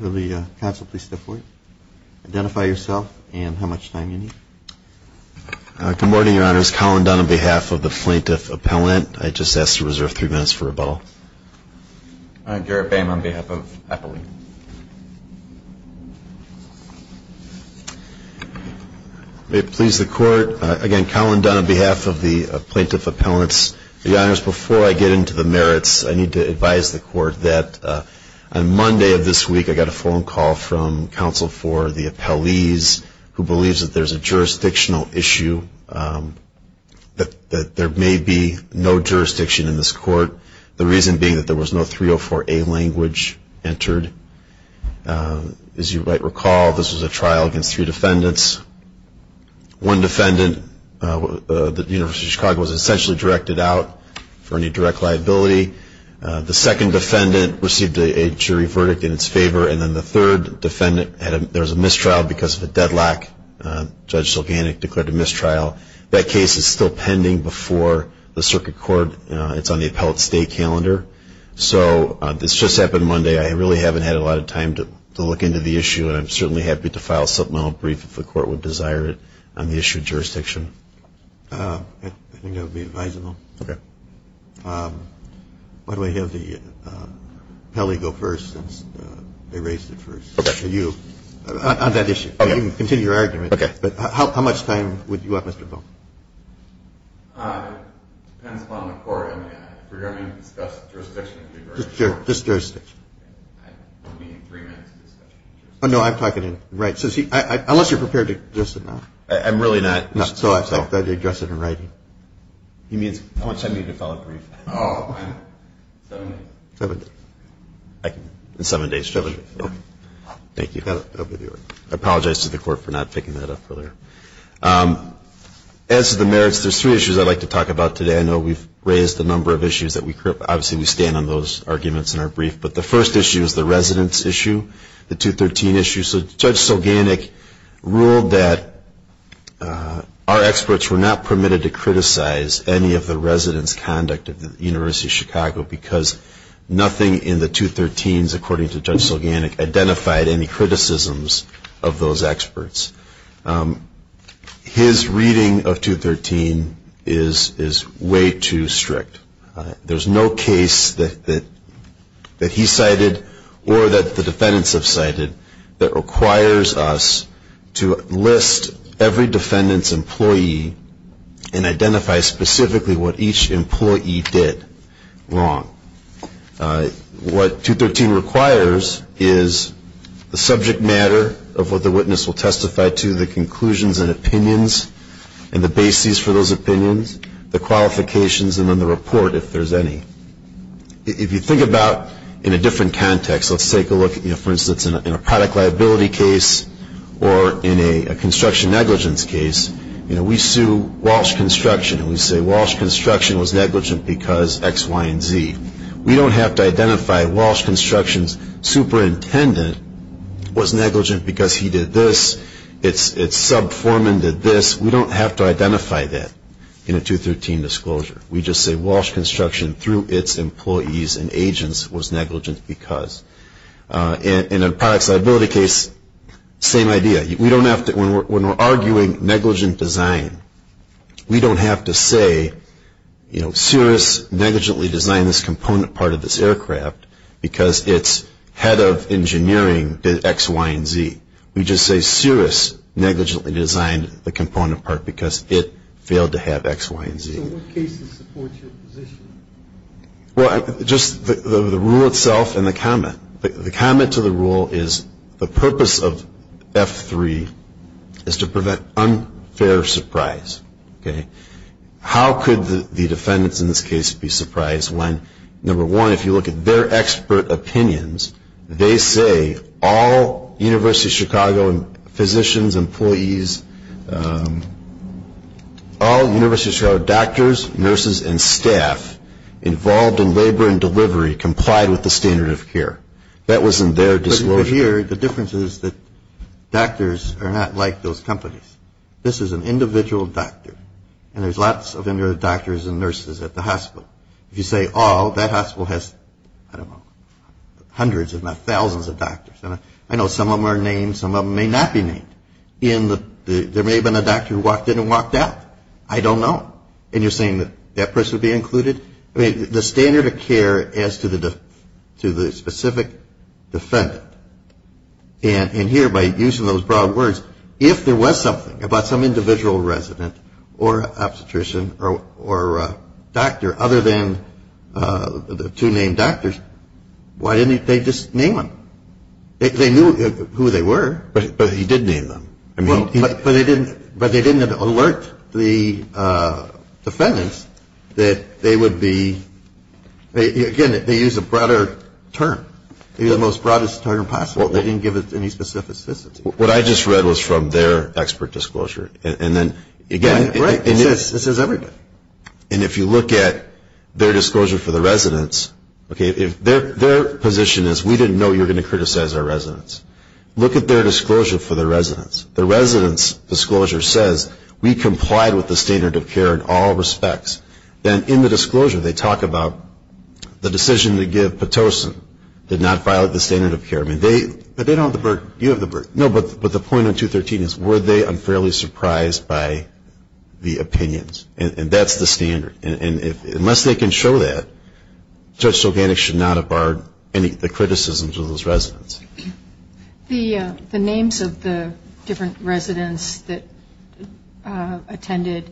Will the counsel please step forward. Identify yourself and how much time you need. Good morning, Your Honors. Collin Dunn on behalf of the Plaintiff Appellant. I just ask to reserve three minutes for rebuttal. Garrett Boehm on behalf of Appellant. Your Honors, before I get into the merits, I need to advise the court that on Monday of this week, I got a phone call from counsel for the appellees who believes that there's a jurisdictional issue, that there may be no jurisdiction in this court, the reason being that there was no 304A language entered. As you might recall, this was a trial against three defendants. One defendant, the University of Chicago, was essentially directed out for any direct liability. The second defendant received a jury verdict in its favor. And then the third defendant, there was a mistrial because of a deadlock. Judge Silganic declared a mistrial. That case is still pending before the circuit court. It's on the appellate state calendar. So this just happened Monday. I really haven't had a lot of time to look into the issue, and I'm certainly happy to file a supplemental brief if the court would desire it on the issue of jurisdiction. I think that would be advisable. Okay. Why don't we have the appellee go first since they raised it first. Okay. You. On that issue. Okay. You can continue your argument. Okay. But how much time would you want, Mr. Boehm? It depends upon the court. If we're going to discuss jurisdiction. Just jurisdiction. Only three minutes of discussion. No, I'm talking right. Unless you're prepared to address it now. I'm really not. So I thought you'd address it in writing. How much time do you need to file a brief? Seven days. Seven days. In seven days. Thank you. I apologize to the court for not picking that up earlier. As to the merits, there's three issues I'd like to talk about today. I know we've raised a number of issues. Obviously, we stand on those arguments in our brief. But the first issue is the residence issue, the 213 issue. So Judge Sulganik ruled that our experts were not permitted to criticize any of the residence conduct of the University of Chicago because nothing in the 213s, according to Judge Sulganik, identified any criticisms of those experts. His reading of 213 is way too strict. There's no case that he cited or that the defendants have cited that requires us to list every defendant's employee and identify specifically what each employee did wrong. What 213 requires is the subject matter of what the witness will testify to, the conclusions and opinions, and the basis for those opinions, the qualifications, and then the report, if there's any. If you think about in a different context, let's take a look, for instance, in a product liability case or in a construction negligence case, we sue Walsh Construction, and we say Walsh Construction was negligent because X, Y, and Z. We don't have to identify Walsh Construction's superintendent was negligent because he did this, its sub-foreman did this. We don't have to identify that in a 213 disclosure. We just say Walsh Construction, through its employees and agents, was negligent because. In a product liability case, same idea. When we're arguing negligent design, we don't have to say, you know, Cirrus negligently designed this component part of this aircraft because its head of engineering did X, Y, and Z. We just say Cirrus negligently designed the component part because it failed to have X, Y, and Z. So what cases support your position? Well, just the rule itself and the comment. The comment to the rule is the purpose of F3 is to prevent unfair surprise. How could the defendants in this case be surprised when, number one, if you look at their expert opinions, they say all University of Chicago physicians, employees, all University of Chicago doctors, nurses, and staff involved in labor and delivery complied with the standard of care. That wasn't their disclosure. But here, the difference is that doctors are not like those companies. This is an individual doctor, and there's lots of them that are doctors and nurses at the hospital. If you say all, that hospital has, I don't know, hundreds if not thousands of doctors. I know some of them are named. Some of them may not be named. There may have been a doctor who walked in and walked out. And you're saying that that person would be included? I mean, the standard of care as to the specific defendant. And here, by using those broad words, if there was something about some individual resident or obstetrician or doctor other than the two named doctors, why didn't they just name them? They knew who they were. But he did name them. But they didn't alert the defendants that they would be, again, they used a broader term. Maybe the most broadest term possible. They didn't give it any specificity. What I just read was from their expert disclosure. And then, again, it says everybody. And if you look at their disclosure for the residents, their position is, we didn't know you were going to criticize our residents. Look at their disclosure for the residents. The residents' disclosure says, we complied with the standard of care in all respects. Then in the disclosure, they talk about the decision to give Pitocin did not violate the standard of care. I mean, they don't have the burden. You have the burden. No, but the point on 213 is, were they unfairly surprised by the opinions? And that's the standard. And unless they can show that, Judge Soganic should not have barred any of the criticisms of those residents. The names of the different residents that attended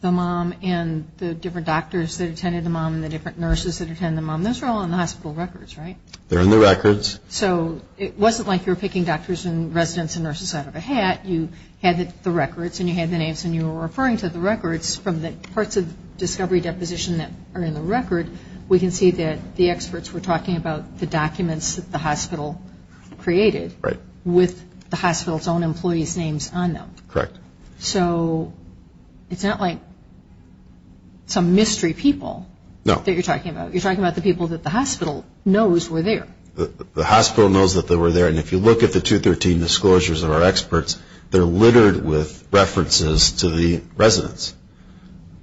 the mom and the different doctors that attended the mom and the different nurses that attended the mom, those are all in the hospital records, right? They're in the records. So it wasn't like you were picking doctors and residents and nurses out of a hat. You had the records and you had the names and you were referring to the records. From the parts of discovery deposition that are in the record, we can see that the experts were talking about the documents that the hospital created with the hospital's own employees' names on them. Correct. So it's not like some mystery people that you're talking about. You're talking about the people that the hospital knows were there. The hospital knows that they were there. And if you look at the 213 disclosures of our experts, they're littered with references to the residents.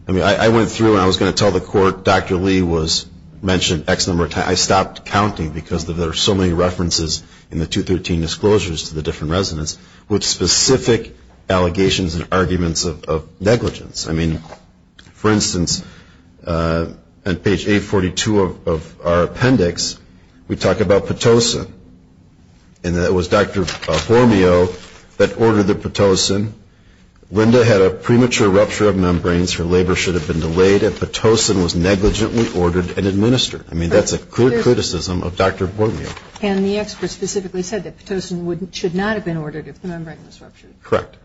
I mean, I went through and I was going to tell the court Dr. Lee mentioned X number of times. I stopped counting because there are so many references in the 213 disclosures to the different residents with specific allegations and arguments of negligence. I mean, for instance, on page 842 of our appendix, we talk about Pitocin. And it was Dr. Formio that ordered the Pitocin. Linda had a premature rupture of membranes. Her labor should have been delayed if Pitocin was negligently ordered and administered. I mean, that's a clear criticism of Dr. Formio. And the experts specifically said that Pitocin should not have been ordered if the membrane was ruptured. Correct.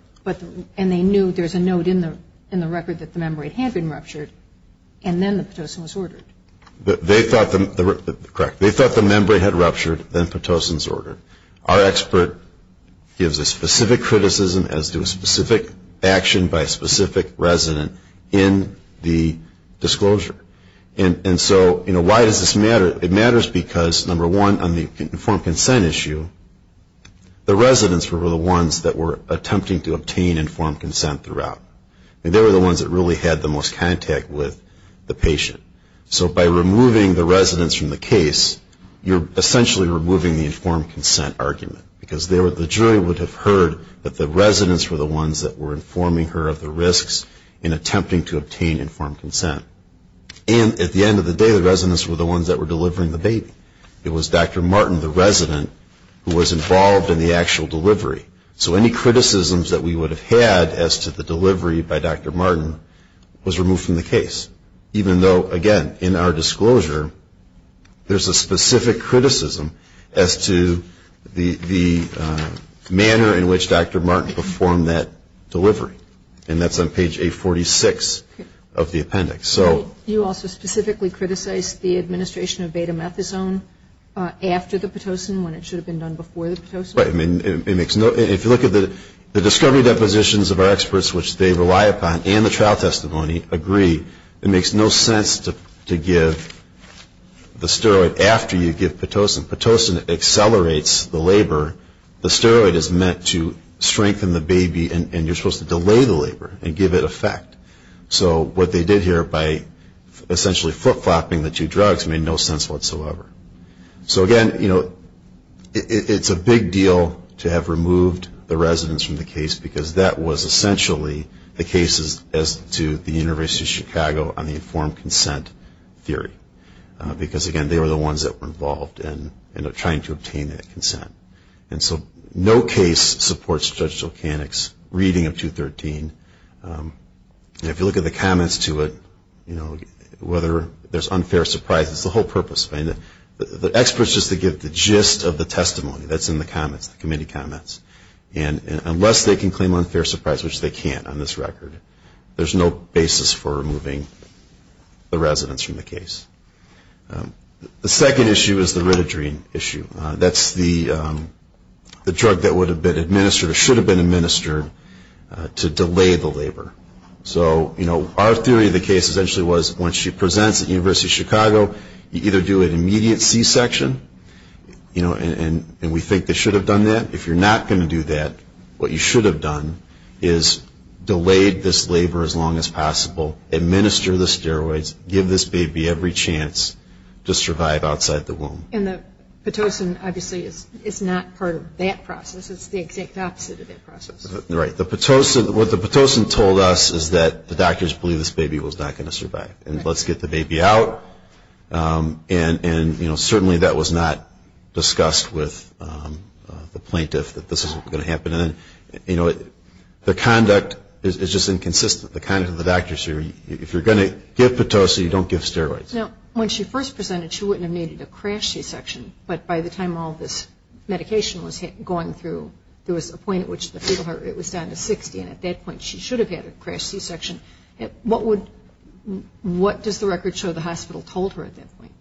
And they knew there's a note in the record that the membrane had been ruptured, and then the Pitocin was ordered. Correct. Our expert gives a specific criticism as to a specific action by a specific resident in the disclosure. And so, you know, why does this matter? It matters because, number one, on the informed consent issue, the residents were the ones that were attempting to obtain informed consent throughout. I mean, they were the ones that really had the most contact with the patient. So by removing the residents from the case, you're essentially removing the informed consent argument, because the jury would have heard that the residents were the ones that were informing her of the risks in attempting to obtain informed consent. And at the end of the day, the residents were the ones that were delivering the baby. It was Dr. Martin, the resident, who was involved in the actual delivery. So any criticisms that we would have had as to the delivery by Dr. Martin was removed from the case, even though, again, in our disclosure, there's a specific criticism as to the manner in which Dr. Martin performed that delivery. And that's on page 846 of the appendix. You also specifically criticized the administration of betamethasone after the Pitocin, when it should have been done before the Pitocin? If you look at the discovery depositions of our experts, which they rely upon, and the trial testimony agree, it makes no sense to give the steroid after you give Pitocin. Pitocin accelerates the labor. The steroid is meant to strengthen the baby, and you're supposed to delay the labor and give it effect. So what they did here by essentially flip-flopping the two drugs made no sense whatsoever. So, again, you know, it's a big deal to have removed the residents from the case, because that was essentially the case as to the University of Chicago on the informed consent theory. Because, again, they were the ones that were involved in trying to obtain that consent. And so no case supports Judge Zolchanek's reading of 213. If you look at the comments to it, you know, whether there's unfair surprise, it's the whole purpose. The experts just to give the gist of the testimony. That's in the comments, the committee comments. And unless they can claim unfair surprise, which they can't on this record, there's no basis for removing the residents from the case. The second issue is the Ritadrine issue. That's the drug that would have been administered or should have been administered to delay the labor. So, you know, our theory of the case essentially was once she presents at the University of Chicago, you either do an immediate C-section, you know, and we think they should have done that. If you're not going to do that, what you should have done is delayed this labor as long as possible, administer the steroids, give this baby every chance to survive outside the womb. And the Pitocin, obviously, is not part of that process. It's the exact opposite of that process. Right. The Pitocin, what the Pitocin told us is that the doctors believe this baby was not going to survive. And let's get the baby out. And, you know, certainly that was not discussed with the plaintiff that this isn't going to happen. And, you know, the conduct is just inconsistent. The conduct of the doctors here, if you're going to give Pitocin, you don't give steroids. Now, when she first presented, she wouldn't have needed a crash C-section, but by the time all this medication was going through, there was a point at which the fetal heart rate was down to 60, and at that point she should have had a crash C-section. What does the record show the hospital told her at that point?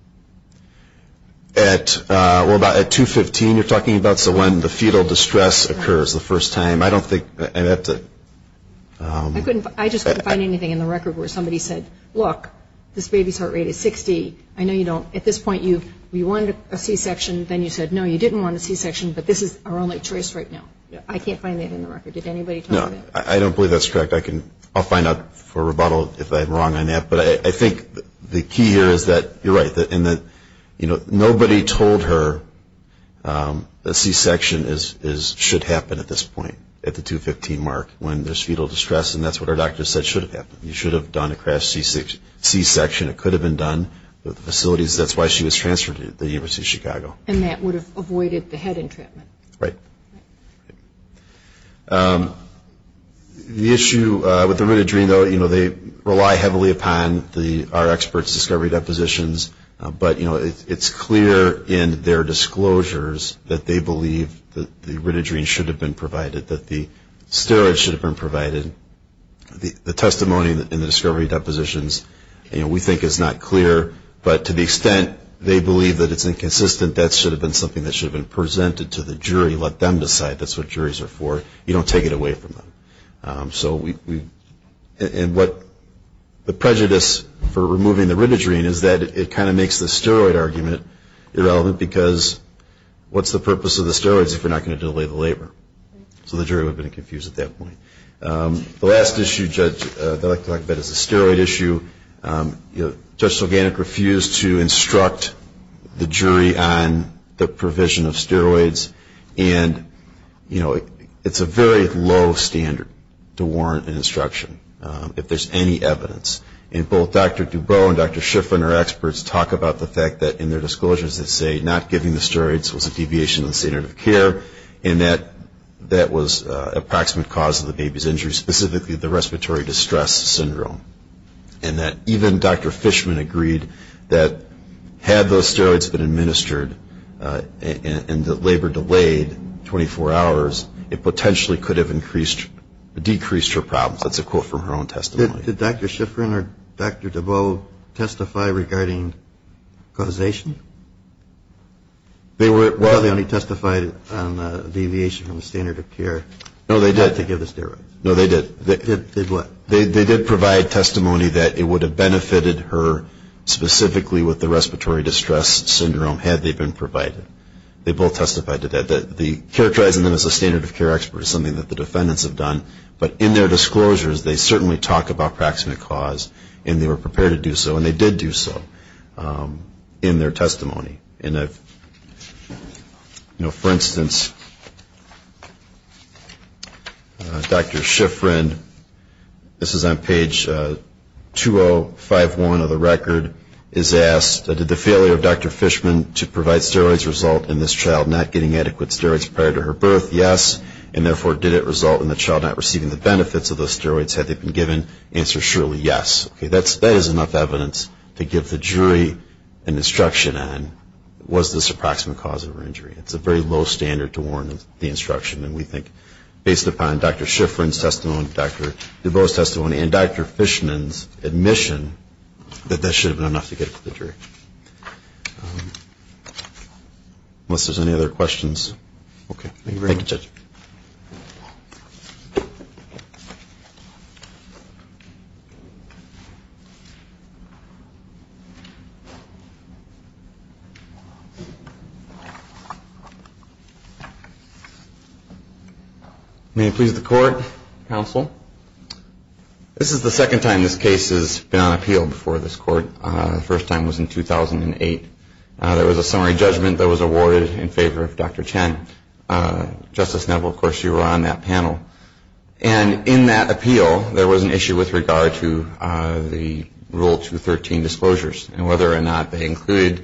Well, about at 215 you're talking about, so when the fetal distress occurs the first time. I don't think I'd have to. I just couldn't find anything in the record where somebody said, look, this baby's heart rate is 60. I know you don't. At this point, you wanted a C-section. Then you said, no, you didn't want a C-section, but this is our only choice right now. I can't find that in the record. Did anybody tell you that? No, I don't believe that's correct. I'll find out for rebuttal if I'm wrong on that. But I think the key here is that you're right. Nobody told her a C-section should happen at this point, at the 215 mark, when there's fetal distress, and that's what our doctor said should have happened. You should have done a crash C-section. It could have been done. The facilities, that's why she was transferred to the University of Chicago. And that would have avoided the head entrapment. Right. The issue with the ritidrine, though, you know, they rely heavily upon our experts' discovery depositions, but, you know, it's clear in their disclosures that they believe that the ritidrine should have been provided, that the steroids should have been provided. The testimony in the discovery depositions, you know, we think is not clear, but to the extent they believe that it's inconsistent, that should have been something that should have been presented to the jury. Let them decide. That's what juries are for. You don't take it away from them. So we – and what the prejudice for removing the ritidrine is that it kind of makes the steroid argument irrelevant because what's the purpose of the steroids if we're not going to delay the labor? So the jury would have been confused at that point. The last issue, Judge, that I'd like to talk about is the steroid issue. Judge Sulganik refused to instruct the jury on the provision of steroids, and, you know, it's a very low standard to warrant an instruction if there's any evidence. And both Dr. Dubrow and Dr. Shiffrin are experts, talk about the fact that in their disclosures they say not giving the steroids was a deviation of the standard of care and that that was an approximate cause of the baby's injury, specifically the respiratory distress syndrome. And that even Dr. Fishman agreed that had those steroids been administered and the labor delayed 24 hours, it potentially could have decreased her problems. That's a quote from her own testimony. Did Dr. Shiffrin or Dr. Dubrow testify regarding causation? They only testified on the deviation from the standard of care. No, they did. Not to give the steroids. No, they did. Did what? They did provide testimony that it would have benefited her specifically with the respiratory distress syndrome had they been provided. They both testified to that. Characterizing them as a standard of care expert is something that the defendants have done, but in their disclosures they certainly talk about approximate cause and they were prepared to do so, and they did do so in their testimony. And, you know, for instance, Dr. Shiffrin, this is on page 2051 of the record, is asked, did the failure of Dr. Fishman to provide steroids result in this child not getting adequate steroids prior to her birth? Yes. And therefore, did it result in the child not receiving the benefits of those steroids had they been given? The answer is surely yes. Okay, that is enough evidence to give the jury an instruction on was this approximate cause of her injury. It's a very low standard to warrant the instruction. And we think based upon Dr. Shiffrin's testimony, Dr. DuBose's testimony, and Dr. Fishman's admission that that should have been enough to get it to the jury. Unless there's any other questions. Thank you very much. Thank you, Judge. Thank you. May it please the Court, Counsel. This is the second time this case has been on appeal before this Court. The first time was in 2008. There was a summary judgment that was awarded in favor of Dr. Chen. Justice Neville, of course, you were on that panel. And in that appeal, there was an issue with regard to the Rule 213 disclosures and whether or not they included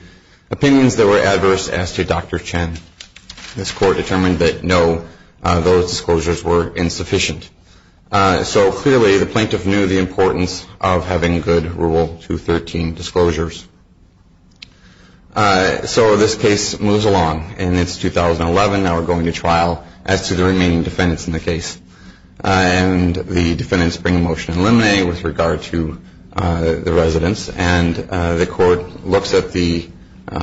opinions that were adverse as to Dr. Chen. This Court determined that no, those disclosures were insufficient. So clearly, the plaintiff knew the importance of having good Rule 213 disclosures. So this case moves along. And it's 2011. Now we're going to trial as to the remaining defendants in the case. And the defendants bring a motion to eliminate with regard to the residents. And the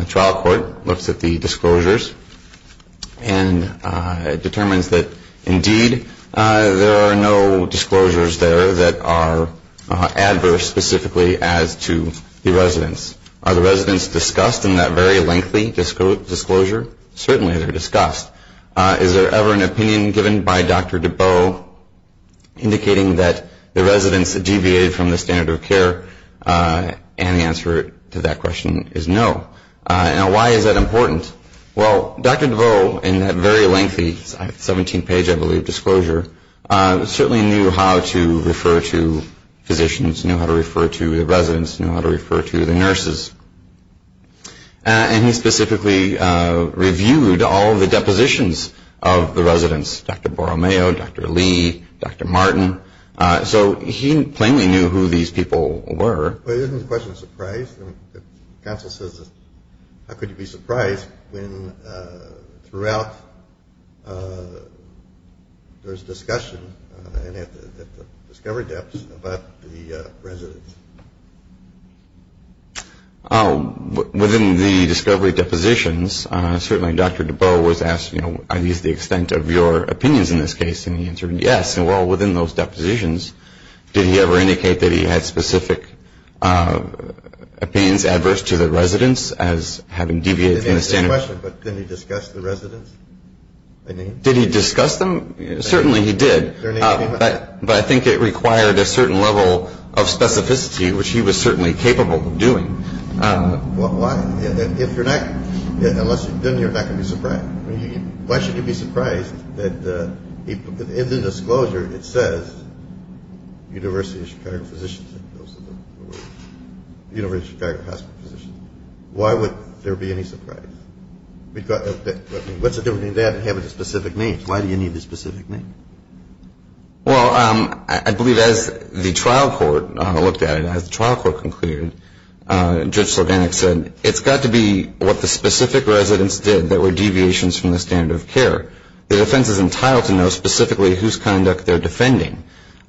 trial court looks at the disclosures and determines that, indeed, there are no disclosures there that are adverse specifically as to the residents. Are the residents discussed in that very lengthy disclosure? Certainly, they're discussed. Is there ever an opinion given by Dr. DeBow indicating that the residents deviated from the standard of care? And the answer to that question is no. Now, why is that important? Well, Dr. DeBow, in that very lengthy 17-page, I believe, disclosure, certainly knew how to refer to physicians, knew how to refer to the residents, knew how to refer to the nurses. And he specifically reviewed all the depositions of the residents, Dr. Borromeo, Dr. Lee, Dr. Martin. So he plainly knew who these people were. But isn't the question of surprise? Counsel says, how could you be surprised when, throughout, there's discussion at the discovery depths about the residents? Within the discovery depositions, certainly Dr. DeBow was asked, you know, are these the extent of your opinions in this case? And he answered yes. I'm asking, well, within those depositions, did he ever indicate that he had specific opinions adverse to the residents as having deviated from the standard? Didn't answer the question, but did he discuss the residents? Did he discuss them? Certainly, he did. But I think it required a certain level of specificity, which he was certainly capable of doing. Why? If you're not, unless you've done it, you're not going to be surprised. Why should you be surprised that in the disclosure, it says University of Chicago Physicians, University of Chicago Hospital Physicians. Why would there be any surprise? What's the difference between that and having a specific name? Why do you need a specific name? Well, I believe as the trial court looked at it, as the trial court concluded, Judge Sloganek said, it's got to be what the specific residents did that were deviations from the standard of care. The defense is entitled to know specifically whose conduct they're defending.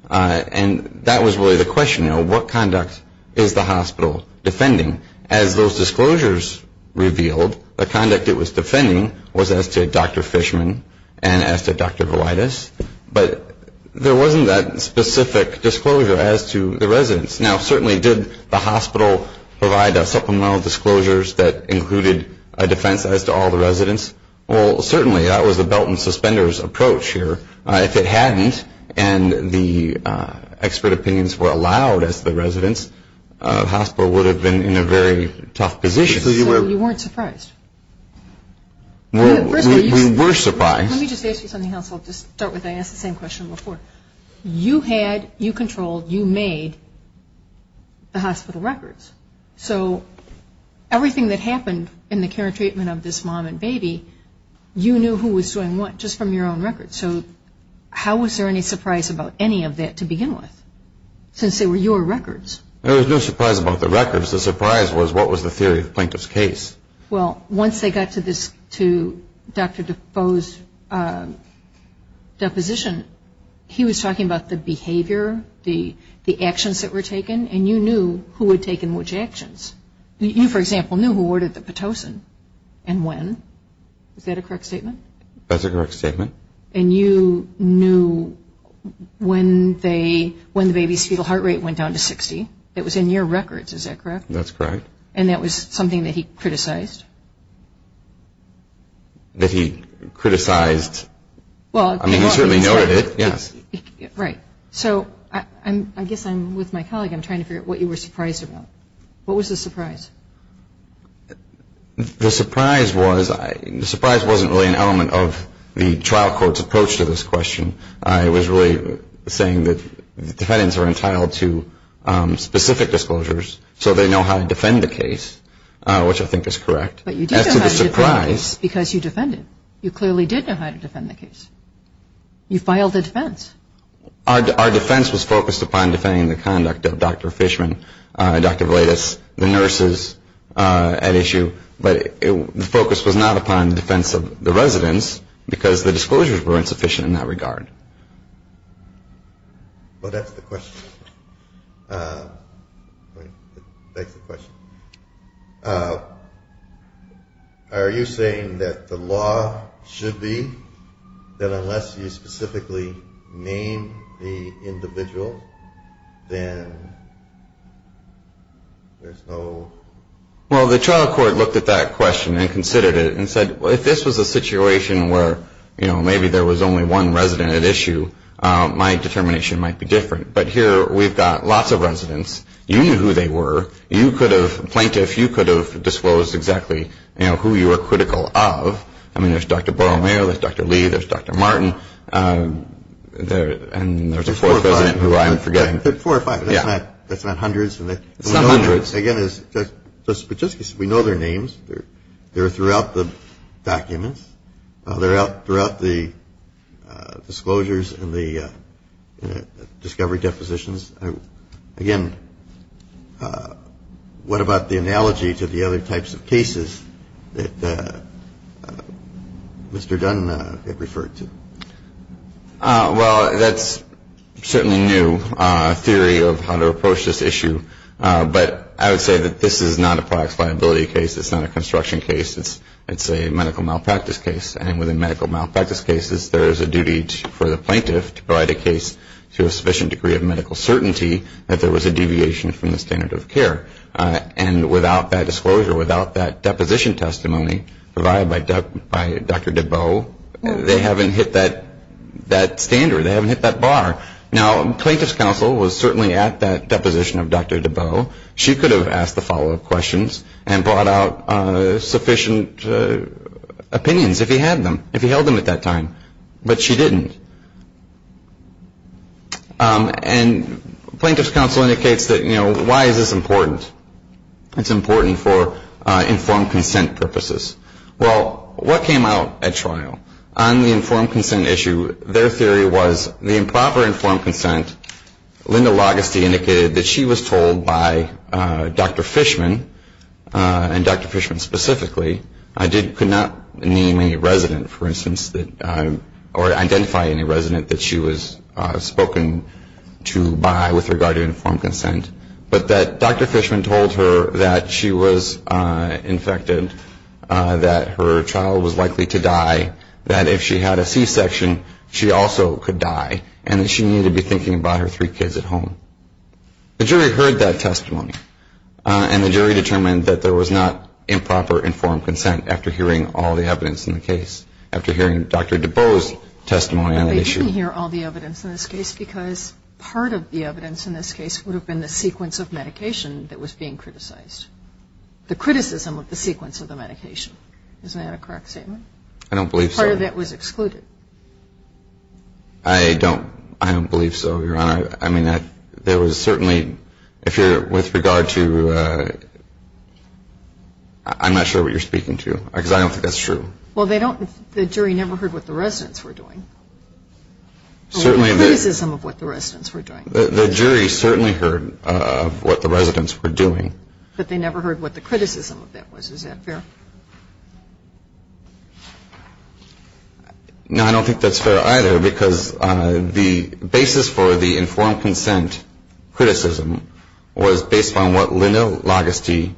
And that was really the question, you know, what conduct is the hospital defending? As those disclosures revealed, the conduct it was defending was as to Dr. Fishman and as to Dr. Velitis. But there wasn't that specific disclosure as to the residents. Now, certainly, did the hospital provide a supplemental disclosures that included a defense as to all the residents? Well, certainly, that was the belt and suspenders approach here. If it hadn't and the expert opinions were allowed as to the residents, the hospital would have been in a very tough position. So you weren't surprised? We were surprised. Let me just ask you something else. I'll just start with that. I asked the same question before. You had, you controlled, you made the hospital records. So everything that happened in the care and treatment of this mom and baby, you knew who was doing what just from your own records. So how was there any surprise about any of that to begin with since they were your records? There was no surprise about the records. The surprise was what was the theory of the plaintiff's case? Well, once they got to this, to Dr. Defoe's deposition, he was talking about the behavior, the actions that were taken, and you knew who had taken which actions. You, for example, knew who ordered the Pitocin and when. Is that a correct statement? That's a correct statement. And you knew when the baby's fetal heart rate went down to 60. It was in your records. Is that correct? That's correct. And that was something that he criticized? That he criticized. I mean, he certainly noted it, yes. Right. So I guess I'm with my colleague. I'm trying to figure out what you were surprised about. What was the surprise? The surprise wasn't really an element of the trial court's approach to this question. I was really saying that defendants are entitled to specific disclosures so they know how to defend the case, which I think is correct. But you did know how to defend the case because you defended it. You clearly did know how to defend the case. You filed a defense. Our defense was focused upon defending the conduct of Dr. Fishman, Dr. Valaitis, the nurses at issue, but the focus was not upon the defense of the residents because the disclosures were insufficient in that regard. Well, that's the question. That's the question. Are you saying that the law should be that unless you specifically name the individual, then there's no? Well, the trial court looked at that question and considered it and said, well, if this was a situation where, you know, maybe there was only one resident at issue, my determination might be different. But here we've got lots of residents. You knew who they were. You could have, plaintiff, you could have disclosed exactly, you know, who you were critical of. I mean, there's Dr. Borromeo, there's Dr. Lee, there's Dr. Martin, and there's a fourth resident who I'm forgetting. Four or five. Yeah. That's not hundreds. It's not hundreds. But just because we know their names, they're throughout the documents, they're throughout the disclosures and the discovery depositions. Again, what about the analogy to the other types of cases that Mr. Dunn had referred to? Well, that's certainly new theory of how to approach this issue. But I would say that this is not a products viability case. It's not a construction case. It's a medical malpractice case. And within medical malpractice cases, there is a duty for the plaintiff to provide a case to a sufficient degree of medical certainty that there was a deviation from the standard of care. And without that disclosure, without that deposition testimony provided by Dr. Deboe, they haven't hit that standard. They haven't hit that bar. Now, Plaintiff's Counsel was certainly at that deposition of Dr. Deboe. She could have asked the follow-up questions and brought out sufficient opinions if he had them, if he held them at that time. But she didn't. And Plaintiff's Counsel indicates that, you know, why is this important? It's important for informed consent purposes. Well, what came out at trial? On the informed consent issue, their theory was the improper informed consent, Linda Logesty indicated that she was told by Dr. Fishman, and Dr. Fishman specifically, could not name any resident, for instance, or identify any resident that she was spoken to by with regard to informed consent, but that Dr. Fishman told her that she was infected, that her child was likely to die, that if she had a C-section, she also could die, and that she needed to be thinking about her three kids at home. The jury heard that testimony, and the jury determined that there was not improper informed consent after hearing all the evidence in the case, after hearing Dr. Deboe's testimony on the issue. Well, they didn't hear all the evidence in this case because part of the evidence in this case would have been the sequence of medication that was being criticized. The criticism of the sequence of the medication. Isn't that a correct statement? I don't believe so. Part of that was excluded. I don't believe so, Your Honor. I mean, there was certainly, if you're with regard to, I'm not sure what you're speaking to, because I don't think that's true. Well, they don't, the jury never heard what the residents were doing. Well, the criticism of what the residents were doing. The jury certainly heard what the residents were doing. But they never heard what the criticism of that was. Is that fair? No, I don't think that's fair either, because the basis for the informed consent criticism was based on what Linda Lagusti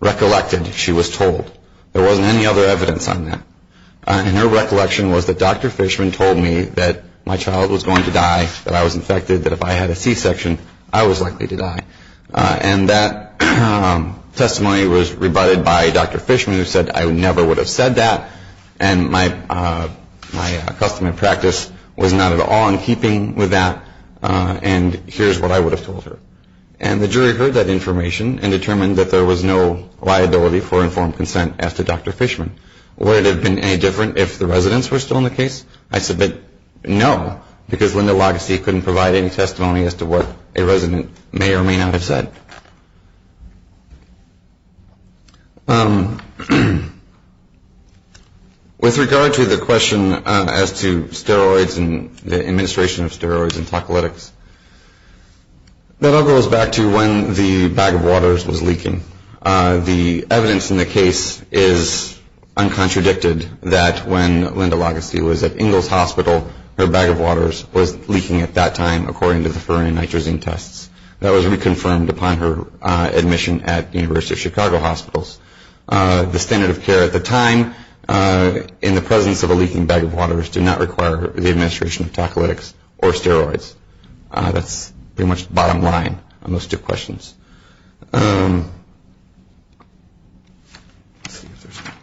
recollected she was told. There wasn't any other evidence on that. And her recollection was that Dr. Fishman told me that my child was going to die, that I was infected, that if I had a C-section, I was likely to die. And that testimony was rebutted by Dr. Fishman, who said I never would have said that, and my custom and practice was not at all in keeping with that, and here's what I would have told her. And the jury heard that information and determined that there was no liability for informed consent as to Dr. Fishman. Would it have been any different if the residents were still in the case? I submit no, because Linda Lagusti couldn't provide any testimony as to what a resident may or may not have said. With regard to the question as to steroids and the administration of steroids and tocolytics, that all goes back to when the bag of waters was leaking. The evidence in the case is uncontradicted that when Linda Lagusti was at Ingalls Hospital, her bag of waters was leaking at that time according to the ferronitrazine tests. That was reconfirmed upon her admission at the University of Chicago hospitals. The standard of care at the time in the presence of a leaking bag of waters did not require the administration of tocolytics or steroids. That's pretty much the bottom line on those two questions. Let's see if there's any more.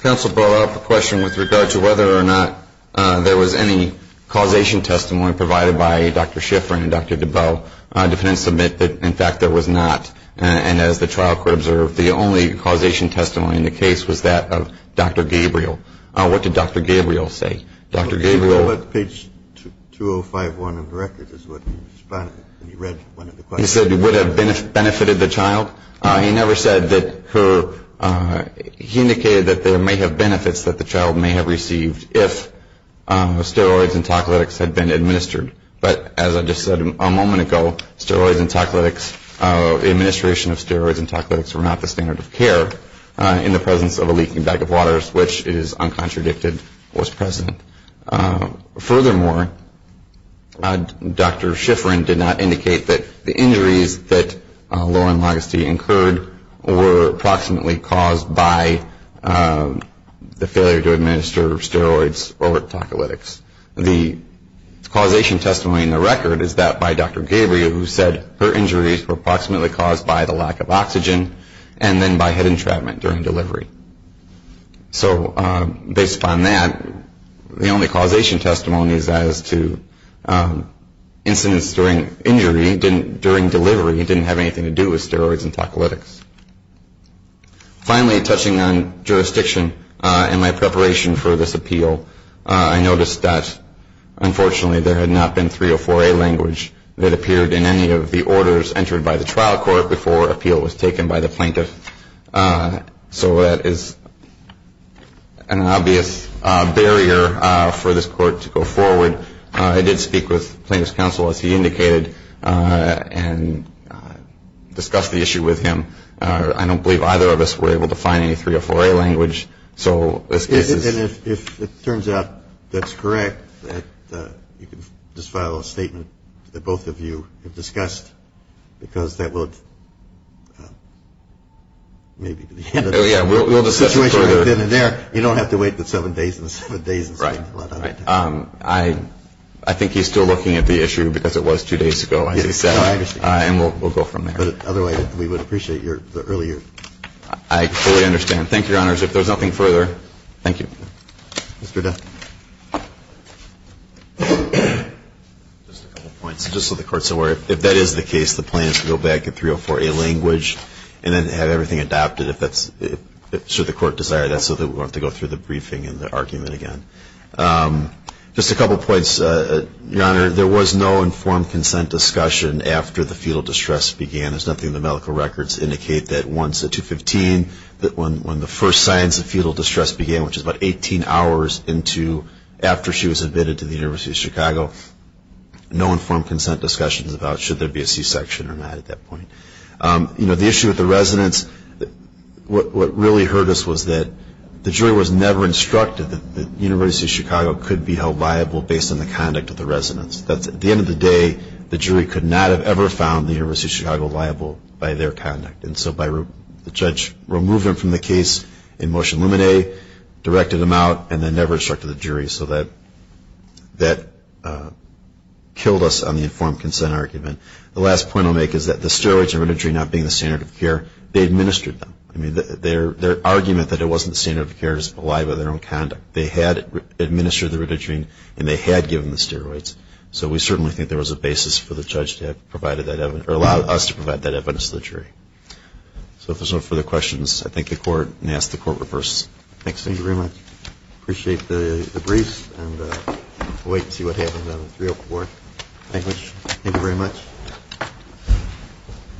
Counsel brought up a question with regard to whether or not there was any causation testimony provided by Dr. Shiffrin and Dr. DeBell. Defendants submit that, in fact, there was not. And as the trial court observed, the only causation testimony in the case was that of Dr. Gabriel. What did Dr. Gabriel say? Dr. Gabriel – Well, page 2051 of the record is what he responded to when he read one of the questions. He said it would have benefited the child. He never said that her – he indicated that there may have benefits that the child may have received if steroids and tocolytics had been administered. But as I just said a moment ago, steroids and tocolytics – the administration of steroids and tocolytics were not the standard of care in the presence of a leaking bag of waters, which is uncontradicted, was present. Furthermore, Dr. Shiffrin did not indicate that the injuries that Lauren Lageste incurred were approximately caused by the failure to administer steroids or tocolytics. The causation testimony in the record is that by Dr. Gabriel, who said her injuries were approximately caused by the lack of oxygen and then by head entrapment during delivery. So based upon that, the only causation testimony is as to incidents during injury, and he didn't – during delivery he didn't have anything to do with steroids and tocolytics. Finally, touching on jurisdiction and my preparation for this appeal, I noticed that unfortunately there had not been 304A language that appeared in any of the orders entered by the trial court before appeal was taken by the plaintiff. So that is an obvious barrier for this court to go forward. I did speak with plaintiff's counsel, as he indicated, and discussed the issue with him. I don't believe either of us were able to find any 304A language. So this case is – And if it turns out that's correct, that you can just file a statement that both of you have discussed, because that would maybe – Oh, yeah, we'll just – The situation would have been in there. You don't have to wait the seven days and the seven days and seven – Right. I think he's still looking at the issue, because it was two days ago, as he said. No, I understand. And we'll go from there. But otherwise, we would appreciate your – the earlier – I fully understand. Thank you, Your Honors. If there's nothing further, thank you. Mr. Dunn. Just a couple points. Just so the Court's aware, if that is the case, the plaintiff can go back and get 304A language and then have everything adopted if that's – should the Court desire that, so that we won't have to go through the briefing and the argument again. Just a couple points, Your Honor. There was no informed consent discussion after the fetal distress began. There's nothing in the medical records to indicate that once at 215, that when the first signs of fetal distress began, which is about 18 hours into – after she was admitted to the University of Chicago, no informed consent discussions about should there be a C-section or not at that point. The issue with the residents, what really hurt us was that the jury was never instructed that the University of Chicago could be held liable based on the conduct of the residents. At the end of the day, the jury could not have ever found the University of Chicago liable by their conduct. And so the judge removed them from the case in motion luminae, directed them out, and then never instructed the jury. So that killed us on the informed consent argument. The last point I'll make is that the steroids and rhododendron not being the standard of care, they administered them. I mean, their argument that it wasn't the standard of care is a lie by their own conduct. They had administered the rhododendron, and they had given the steroids. So we certainly think there was a basis for the judge to have provided that – or allowed us to provide that evidence to the jury. So if there's no further questions, I thank the Court and ask the Court to reverse. Thanks. Thank you very much. Appreciate the briefs, and we'll wait and see what happens on the 304. Thank you very much. Thank you.